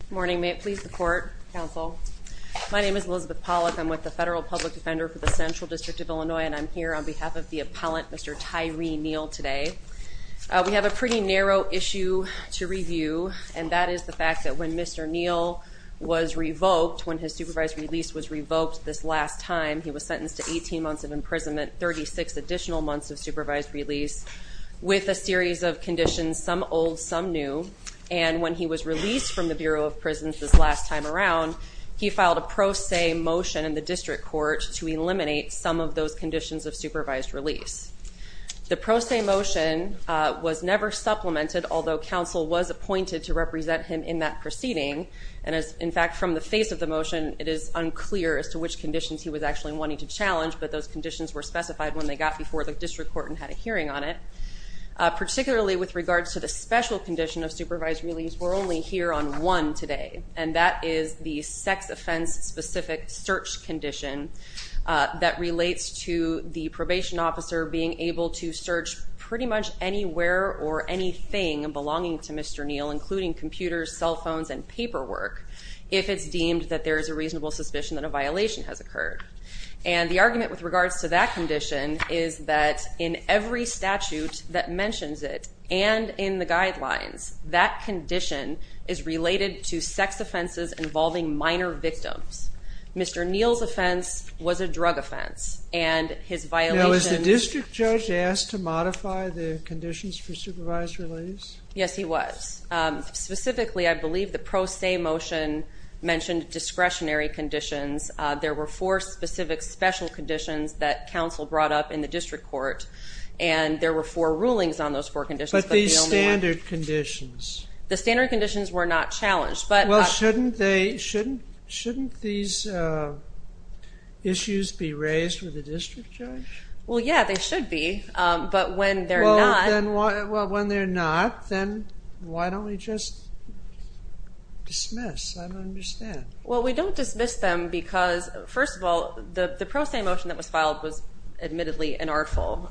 Good morning. May it please the Court, Counsel. My name is Elizabeth Pollack. I'm with the Federal Public Defender for the Central District of Illinois and I'm here on behalf of the Appellant, Mr. Tyree Neal, today. We have a pretty narrow issue to review and that is the fact that when Mr. Neal was revoked, when his supervised release was revoked this last time, he was sentenced to 18 months of imprisonment, 36 additional months of supervised release, with a series of prisons this last time around, he filed a pro se motion in the District Court to eliminate some of those conditions of supervised release. The pro se motion was never supplemented, although counsel was appointed to represent him in that proceeding, and as in fact from the face of the motion, it is unclear as to which conditions he was actually wanting to challenge, but those conditions were specified when they got before the District Court and had a hearing on it. Particularly with regards to the special condition of supervised release, we're only here on one today, and that is the sex offense specific search condition that relates to the probation officer being able to search pretty much anywhere or anything belonging to Mr. Neal, including computers, cell phones, and paperwork, if it's deemed that there is a reasonable suspicion that a violation has occurred. And the argument with regards to that condition is that in every statute that mentions it, and in the guidelines, that condition is related to sex offenses involving minor victims. Mr. Neal's offense was a drug offense, and his violation... Now, was the District Judge asked to modify the conditions for supervised release? Yes, he was. Specifically, I believe the pro se motion mentioned discretionary conditions. There were four specific special conditions that counsel brought up in the District Court, and there were four rulings on those four conditions. But these standard conditions? The standard conditions were not challenged, but... Well, shouldn't these issues be raised with the District Judge? Well, yeah, they should be, but when they're not... Well, when they're not, then why don't we just dismiss? I don't understand. Well, we don't dismiss them because, first of all, the pro se motion that was admittedly inartful,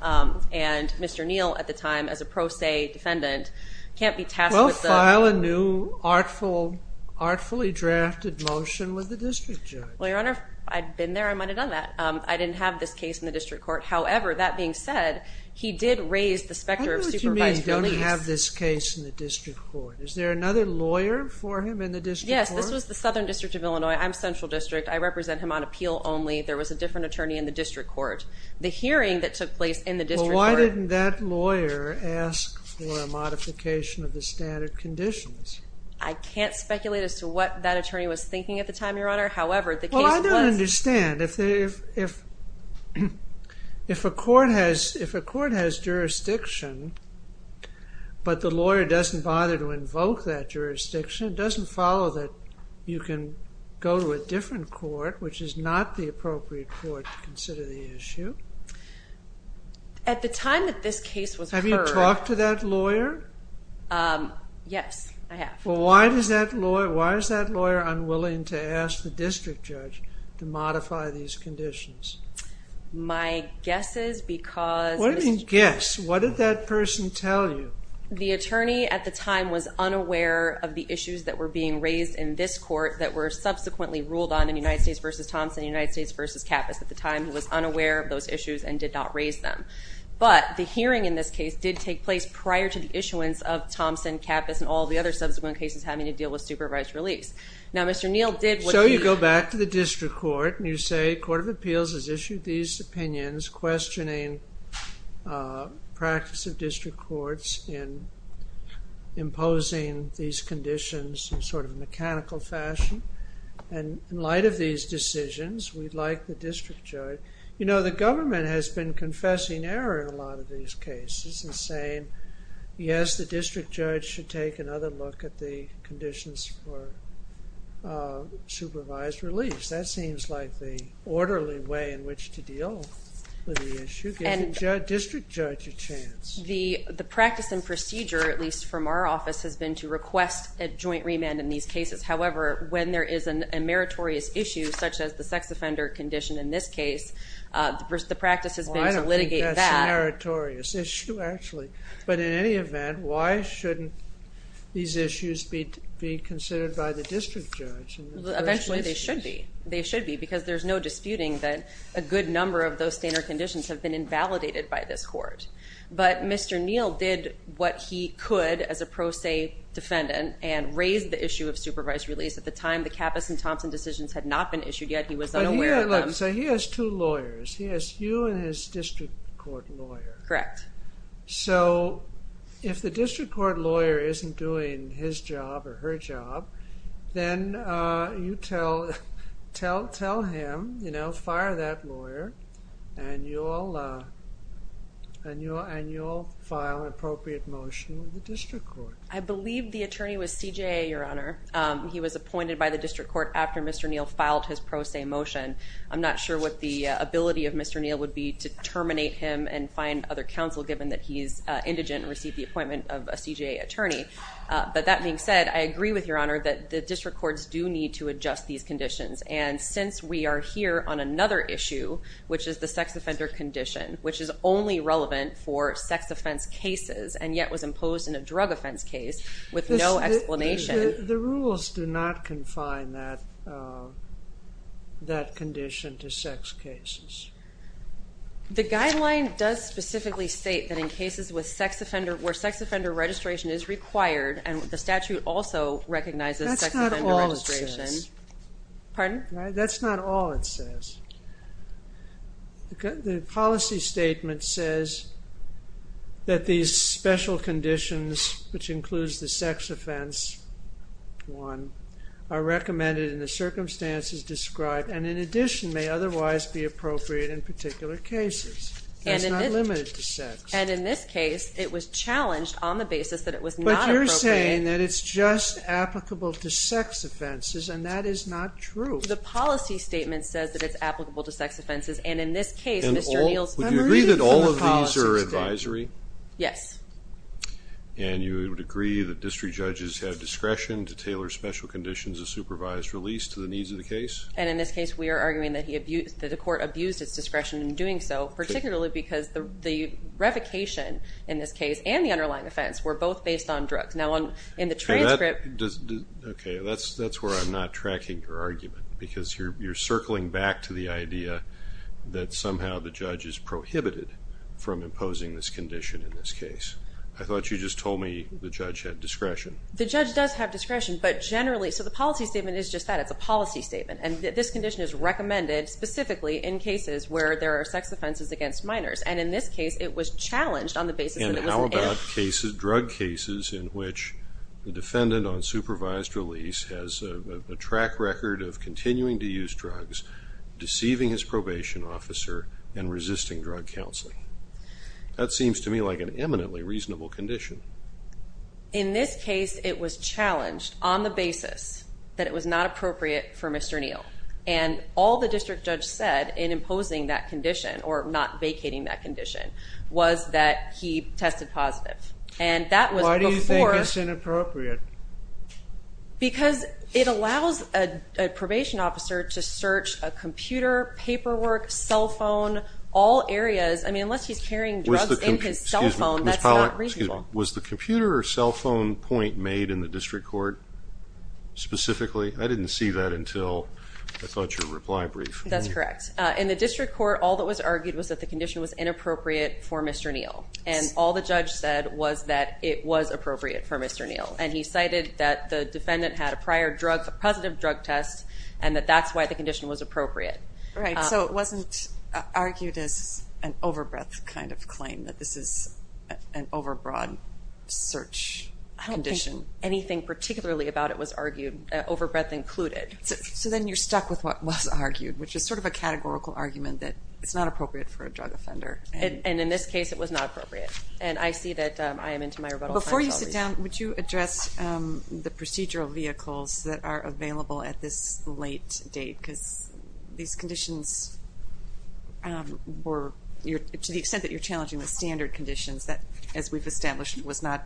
and Mr. Neal, at the time, as a pro se defendant, can't be tasked with... Well, file a new artfully drafted motion with the District Judge. Well, Your Honor, if I'd been there, I might have done that. I didn't have this case in the District Court. However, that being said, he did raise the specter of supervised release. What do you mean, you don't have this case in the District Court? Is there another lawyer for him in the District Court? Yes, this was the Southern District of Illinois. I'm Central District. I represent him on appeal only. There was a different attorney in the District Court. The hearing that took place in the District Court... Well, why didn't that lawyer ask for a modification of the standard conditions? I can't speculate as to what that attorney was thinking at the time, Your Honor. However, the case was... Well, I don't understand. If a court has jurisdiction, but the lawyer doesn't bother to invoke that jurisdiction, it doesn't follow that you can go to a district court. At the time that this case was heard... Have you talked to that lawyer? Yes, I have. Well, why is that lawyer unwilling to ask the District Judge to modify these conditions? My guess is because... What do you mean, guess? What did that person tell you? The attorney at the time was unaware of the issues that were being raised in this court that were subsequently ruled on in United States v. Thompson and United States v. Kappas at the time. He was unaware of those issues and did not raise them. But the hearing in this case did take place prior to the issuance of Thompson, Kappas, and all the other subsequent cases having to deal with supervised release. Now, Mr. Neal did... So you go back to the District Court and you say, Court of Appeals has issued these opinions questioning practice of District Courts in imposing these conditions in sort of a mechanical fashion. And in light of these decisions, we'd like the District Judge... You know, the government has been confessing error in a lot of these cases and saying, yes, the District Judge should take another look at the conditions for supervised release. That seems like the orderly way in which to deal with the issue. Give the District Judge a chance. The practice and procedure, at least from our office, has been to request a joint remand in these cases. However, when there is a meritorious issue such as the sex offender condition in this case, the practice has been to litigate that. I don't think that's a meritorious issue, actually. But in any event, why shouldn't these issues be considered by the District Judge? Eventually, they should be. They should be because there's no disputing that a good number of those standard conditions have been invalidated by this Court. But Mr. Neal did what he could as a pro se defendant and raised the issue of supervised release. At the time, the Kappas and Thompson decisions had not been issued yet. He was unaware of them. So he has two lawyers. He has you and his District Court lawyer. Correct. So if the District Court lawyer isn't doing his job or her job, then you tell him, fire that lawyer, and you'll file an appropriate motion with the District Court. I believe the attorney was CJA, Your Honor. He was appointed by the District Court after Mr. Neal filed his pro se motion. I'm not sure what the ability of Mr. Neal would be to terminate him and find other counsel, given that he's indigent and received the appointment of a CJA attorney. But that being said, I agree with Your Honor that the District Courts do need to adjust these conditions. And since we are here on another issue, which is the sex offender condition, which is only relevant for sex offense cases and yet was imposed in a drug offense case with no explanation. The rules do not confine that condition to sex cases. The guideline does specifically state that in cases where sex offender registration is required and the statute also recognizes sex offender registration. That's not all it says. Pardon? That's not all it says. The policy statement says that these special conditions, which includes the sex offense one, are recommended in the circumstances described and in addition may otherwise be appropriate in particular cases. It's not limited to sex. And in this case, it was challenged on the basis that it was not appropriate. But you're saying that it's just applicable to sex offenses, and that is not true. The policy statement says that it's applicable to sex offenses, and in this case, Mr. Neal's memory is from the policy statement. And would you agree that all of these are advisory? Yes. And you would agree that district judges have discretion to tailor special conditions of supervised release to the needs of the case? And in this case, we are arguing that the court abused its discretion in doing so, particularly because the revocation in this case and the underlying offense were both based on drugs. Now, in the transcript... Okay, that's where I'm not tracking your argument, because you're circling back to the idea that somehow the judge is prohibited from imposing this condition in this case. I thought you just told me the judge had discretion. The judge does have discretion, but generally... So the policy statement is just that. It's a policy statement. And this condition is recommended specifically in cases where there are sex offenses against minors. And in this case, it was challenged on the basis that it was... And how about drug cases in which the defendant on supervised release has a track record of continuing to use drugs, deceiving his probation officer, and resisting drug counseling? That seems to me like an eminently reasonable condition. In this case, it was challenged on the basis that it was not appropriate for Mr. Neal. And all the district judge said in imposing that condition, or not vacating that condition, was that he tested positive. And that was before... Why do you think it's inappropriate? Because it allows a probation officer to search a computer, paperwork, cell phone, all areas. I mean, unless he's carrying drugs in his cell phone, that's not reasonable. Was the computer or cell phone point made in the district court specifically? I didn't see that until I thought your reply brief. That's correct. In the district court, all that was argued was that the condition was inappropriate for Mr. Neal. And all the judge said was that it was appropriate for Mr. Neal. And he cited that the defendant had a prior positive drug test and that that's why the condition was appropriate. Right. So it wasn't argued as an over-breath kind of claim that this is an over-broad search condition. I don't think anything particularly about it was argued, over-breath included. So then you're stuck with what was argued, which is sort of a categorical argument that it's not appropriate for a drug offender. And in this case, it was not appropriate. And I see that I am into my rebuttal. Before you sit down, would you address the procedural vehicles that are available at this late date? Because these conditions were, to the extent that you're challenging the standard conditions that, as we've established, was not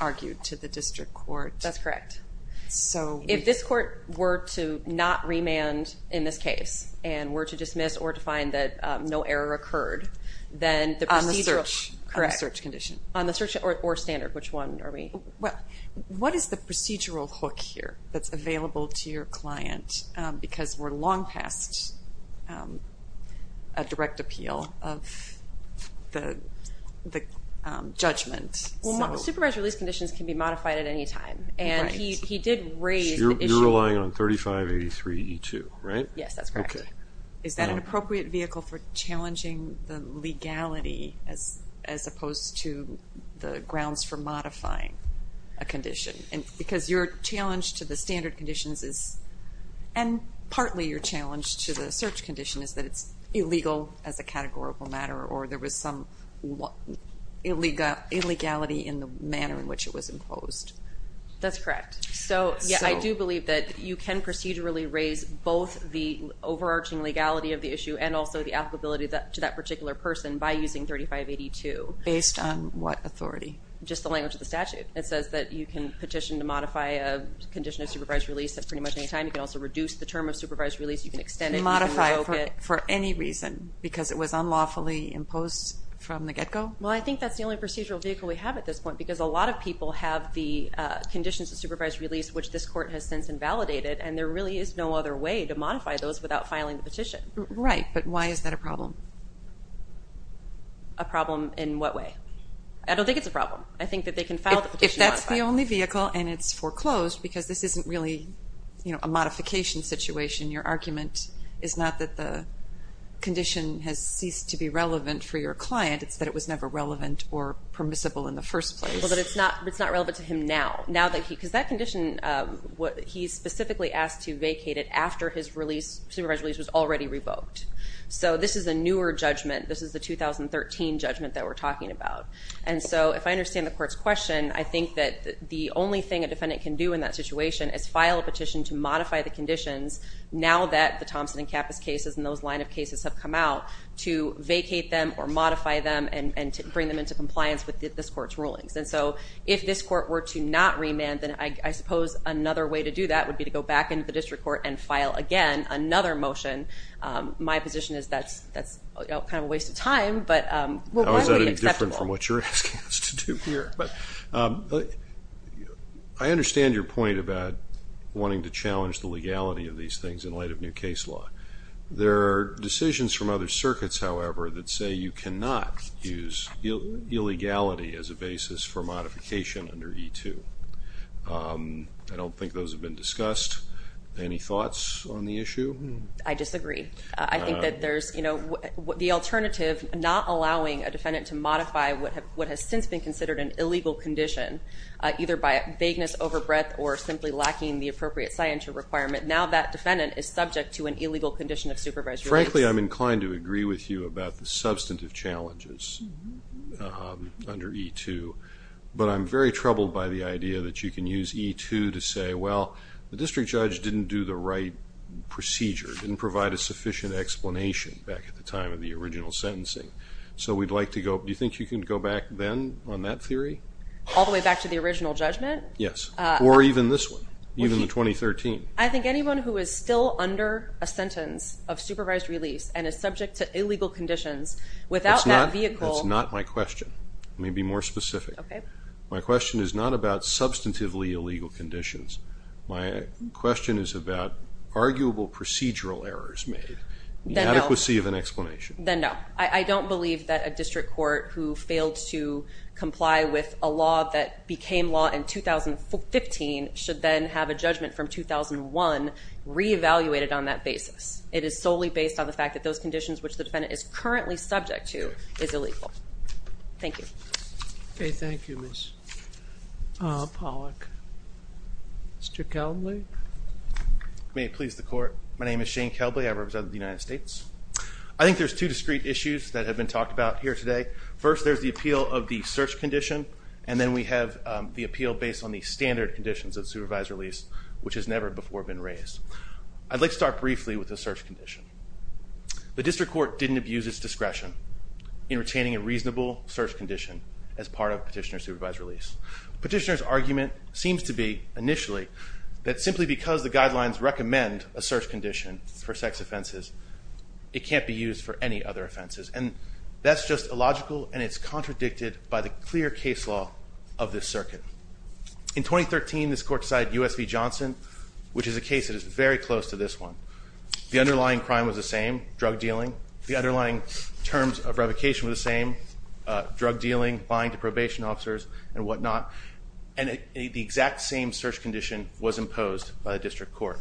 argued to the district court. That's correct. If this court were to not remand in this case and were to dismiss or to find that no error occurred, then the procedural. On the search. Correct. On the search condition. On the search or standard. Which one are we? What is the procedural hook here that's available to your client? Because we're long past a direct appeal of the judgment. Supervised release conditions can be modified at any time. And he did raise the issue. You're relying on 3583E2, right? Yes, that's correct. Okay. Is that an appropriate vehicle for challenging the legality as opposed to the grounds for modifying a condition? Because your challenge to the standard conditions is, and partly your challenge to the search condition, is that it's illegal as a categorical matter or there was some illegality in the manner in which it was imposed. That's correct. So, yeah, I do believe that you can procedurally raise both the overarching legality of the issue and also the applicability to that particular person by using 3582. Based on what authority? Just the language of the statute. It says that you can petition to modify a condition of supervised release at pretty much any time. You can also reduce the term of supervised release. You can extend it. You can revoke it. Modify it for any reason because it was unlawfully imposed from the get-go? Well, I think that's the only procedural vehicle we have at this point because a lot of people have the conditions of supervised release, which this court has since invalidated, and there really is no other way to modify those without filing the petition. Right, but why is that a problem? A problem in what way? I don't think it's a problem. I think that they can file the petition. If that's the only vehicle and it's foreclosed because this isn't really a modification situation, your argument is not that the condition has ceased to be relevant for your client. It's that it was never relevant or permissible in the first place. But it's not relevant to him now. Because that condition, he's specifically asked to vacate it after his supervised release was already revoked. So this is a newer judgment. This is the 2013 judgment that we're talking about. And so if I understand the court's question, I think that the only thing a defendant can do in that situation is file a petition to modify the conditions now that the Thompson and Kappas cases and those line of cases have come out to vacate them or modify them and to bring them into compliance with this court's rulings. And so if this court were to not remand, then I suppose another way to do that would be to go back into the district court and file, again, another motion. My position is that's kind of a waste of time. But why would it be acceptable? That was a little different from what you're asking us to do here. But I understand your point about wanting to challenge the legality of these things in light of new case law. There are decisions from other circuits, however, that say you cannot use illegality as a basis for modification under E2. I don't think those have been discussed. Any thoughts on the issue? I disagree. I think that there's the alternative not allowing a defendant to modify what has since been considered an illegal condition, either by vagueness, overbreadth, or simply lacking the appropriate scientific requirement. Now that defendant is subject to an illegal condition of supervised release. Frankly, I'm inclined to agree with you about the substantive challenges under E2. But I'm very troubled by the idea that you can use E2 to say, well, the district judge didn't do the right procedure, didn't provide a sufficient explanation back at the time of the original sentencing. So we'd like to go – do you think you can go back then on that theory? All the way back to the original judgment? Yes, or even this one, even the 2013. I think anyone who is still under a sentence of supervised release and is subject to illegal conditions, without that vehicle – That's not my question. Let me be more specific. My question is not about substantively illegal conditions. My question is about arguable procedural errors made, the adequacy of an explanation. Then no. I don't believe that a district court who failed to comply with a law that became law in 2015 should then have a judgment from 2001 re-evaluated on that basis. It is solely based on the fact that those conditions which the defendant is currently subject to is illegal. Thank you. Okay, thank you, Ms. Pollack. Mr. Kelbley. May it please the Court. My name is Shane Kelbley. I represent the United States. I think there's two discrete issues that have been talked about here today. First, there's the appeal of the search condition, and then we have the appeal based on the standard conditions of supervised release, which has never before been raised. I'd like to start briefly with the search condition. The district court didn't abuse its discretion in retaining a reasonable search condition as part of petitioner supervised release. Petitioner's argument seems to be, initially, that simply because the guidelines recommend a search condition for sex offenses, it can't be used for any other offenses. And that's just illogical, and it's contradicted by the clear case law of this circuit. In 2013, this court decided U.S. v. Johnson, which is a case that is very close to this one. The underlying crime was the same, drug dealing. The underlying terms of revocation were the same, drug dealing, lying to probation officers and whatnot. And the exact same search condition was imposed by the district court.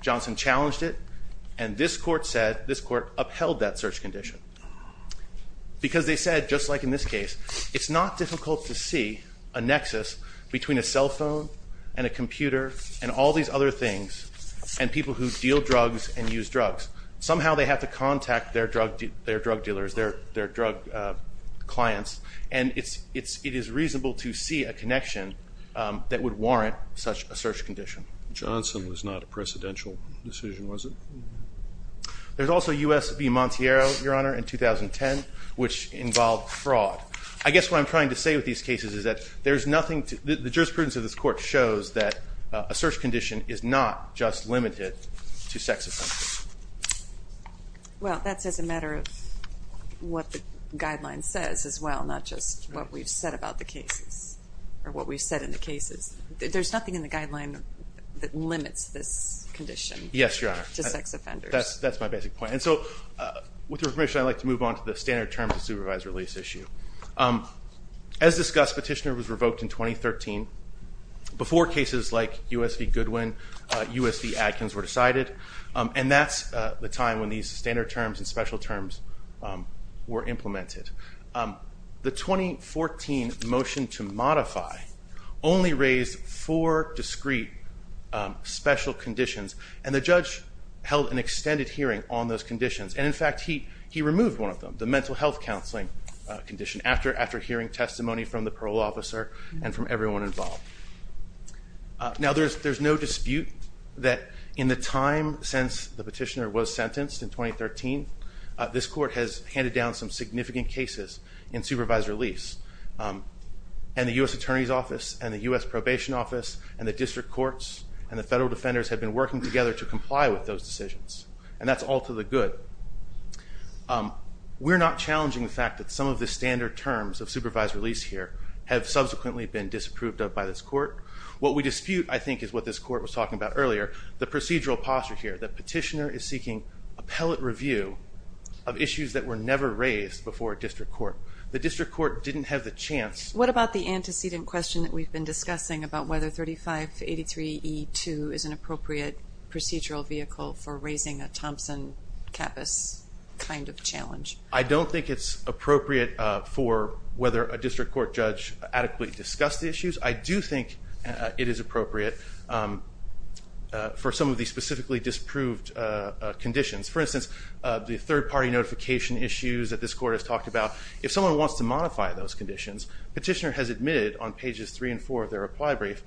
Johnson challenged it, and this court said, this court upheld that search condition. Because they said, just like in this case, it's not difficult to see a nexus between a cell phone and a computer and all these other things and people who deal drugs and use drugs. Somehow they have to contact their drug dealers, their drug clients, and it is reasonable to see a connection that would warrant such a search condition. Johnson was not a precedential decision, was it? There's also U.S. v. Montiero, Your Honor, in 2010, which involved fraud. I guess what I'm trying to say with these cases is that there's nothing to The jurisprudence of this court shows that a search condition is not just limited to sex offenses. Well, that's as a matter of what the guideline says as well, not just what we've said about the cases or what we've said in the cases. There's nothing in the guideline that limits this condition to sex offenders. Yes, Your Honor, that's my basic point. And so with your permission, I'd like to move on to the standard terms of supervisory release issue. As discussed, Petitioner was revoked in 2013. Before cases like U.S. v. Goodwin, U.S. v. Adkins were decided. And that's the time when these standard terms and special terms were implemented. The 2014 motion to modify only raised four discrete special conditions, and the judge held an extended hearing on those conditions. And, in fact, he removed one of them, the mental health counseling condition, after hearing testimony from the parole officer and from everyone involved. Now, there's no dispute that in the time since the Petitioner was sentenced in 2013, this court has handed down some significant cases in supervisory release. And the U.S. Attorney's Office and the U.S. Probation Office and the district courts and the federal defenders have been working together to comply with those decisions, and that's all to the good. We're not challenging the fact that some of the standard terms of supervisory release here have subsequently been disapproved of by this court. What we dispute, I think, is what this court was talking about earlier, the procedural posture here, that Petitioner is seeking appellate review of issues that were never raised before a district court. The district court didn't have the chance. What about the antecedent question that we've been discussing about whether 3583E2 is an appropriate procedural vehicle for raising a Thompson-Cappis kind of challenge? I don't think it's appropriate for whether a district court judge adequately discussed the issues. I do think it is appropriate for some of the specifically disproved conditions. For instance, the third-party notification issues that this court has talked about, if someone wants to modify those conditions, Petitioner has admitted on pages 3 and 4 of their reply brief,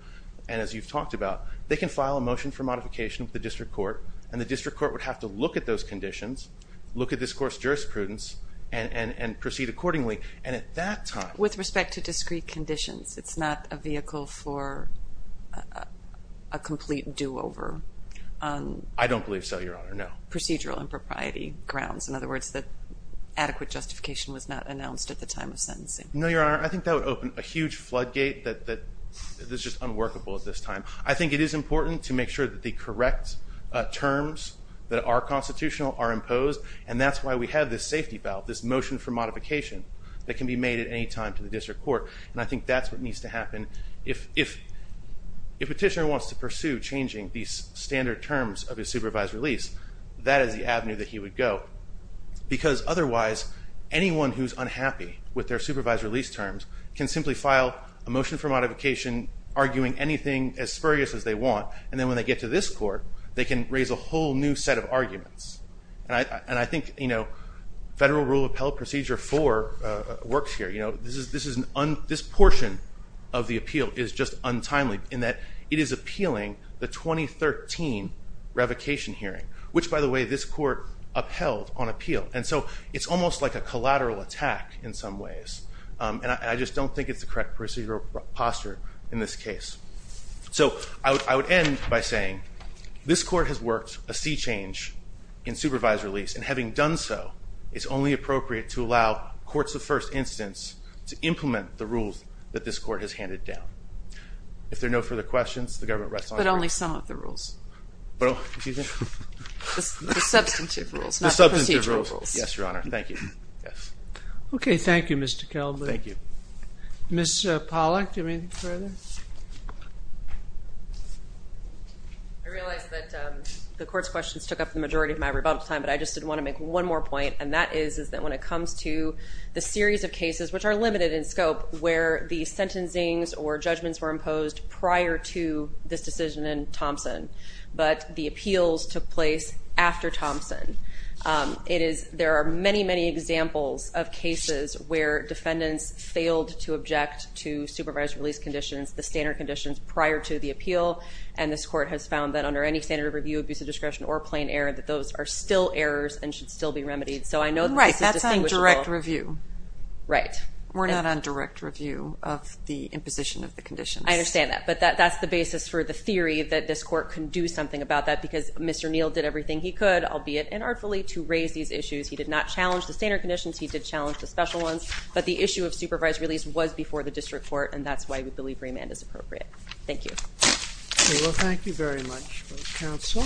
and as you've talked about, they can file a motion for modification with the district court, and the district court would have to look at those conditions, look at this court's jurisprudence, and proceed accordingly, and at that time... With respect to discrete conditions, it's not a vehicle for a complete do-over on... I don't believe so, Your Honor, no. ...procedural impropriety grounds. In other words, that adequate justification was not announced at the time of sentencing. No, Your Honor, I think that would open a huge floodgate that is just unworkable at this time. I think it is important to make sure that the correct terms that are constitutional are imposed, and that's why we have this safety valve, this motion for modification, that can be made at any time to the district court, and I think that's what needs to happen. If Petitioner wants to pursue changing these standard terms of his supervised release, that is the avenue that he would go, because otherwise anyone who's unhappy with their supervised release terms can simply file a motion for modification, arguing anything as spurious as they want, and then when they get to this court, they can raise a whole new set of arguments. And I think Federal Rule of Appellate Procedure 4 works here. This portion of the appeal is just untimely in that it is appealing the 2013 revocation hearing, which, by the way, this court upheld on appeal, and so it's almost like a collateral attack in some ways. And I just don't think it's the correct procedural posture in this case. So I would end by saying this court has worked a C change in supervised release, and having done so, it's only appropriate to allow courts of first instance to implement the rules that this court has handed down. If there are no further questions, the government rests on hearing. But only some of the rules. Excuse me? The substantive rules, not the procedural rules. The substantive rules. Yes, Your Honor. Thank you. Okay. Thank you, Mr. Kelby. Thank you. Ms. Pollack, do you have anything further? I realize that the court's questions took up the majority of my rebuttal time, but I just did want to make one more point, and that is that when it comes to the series of cases which are limited in scope where the sentencings or judgments were imposed prior to this decision in Thompson, but the appeals took place after Thompson, there are many, many examples of cases where defendants failed to object to supervised release conditions, the standard conditions prior to the appeal, and this court has found that under any standard of review, abuse of discretion, or plain error, that those are still errors and should still be remedied. So I know this is distinguishable. Right. That's on direct review. Right. We're not on direct review of the imposition of the conditions. I understand that. But that's the basis for the theory that this court can do something about that because Mr. Neal did everything he could, albeit inartfully, to raise these issues. He did not challenge the standard conditions. He did challenge the special ones. But the issue of supervised release was before the district court, and that's why we believe remand is appropriate. Thank you. Okay. Well, thank you very much, counsel.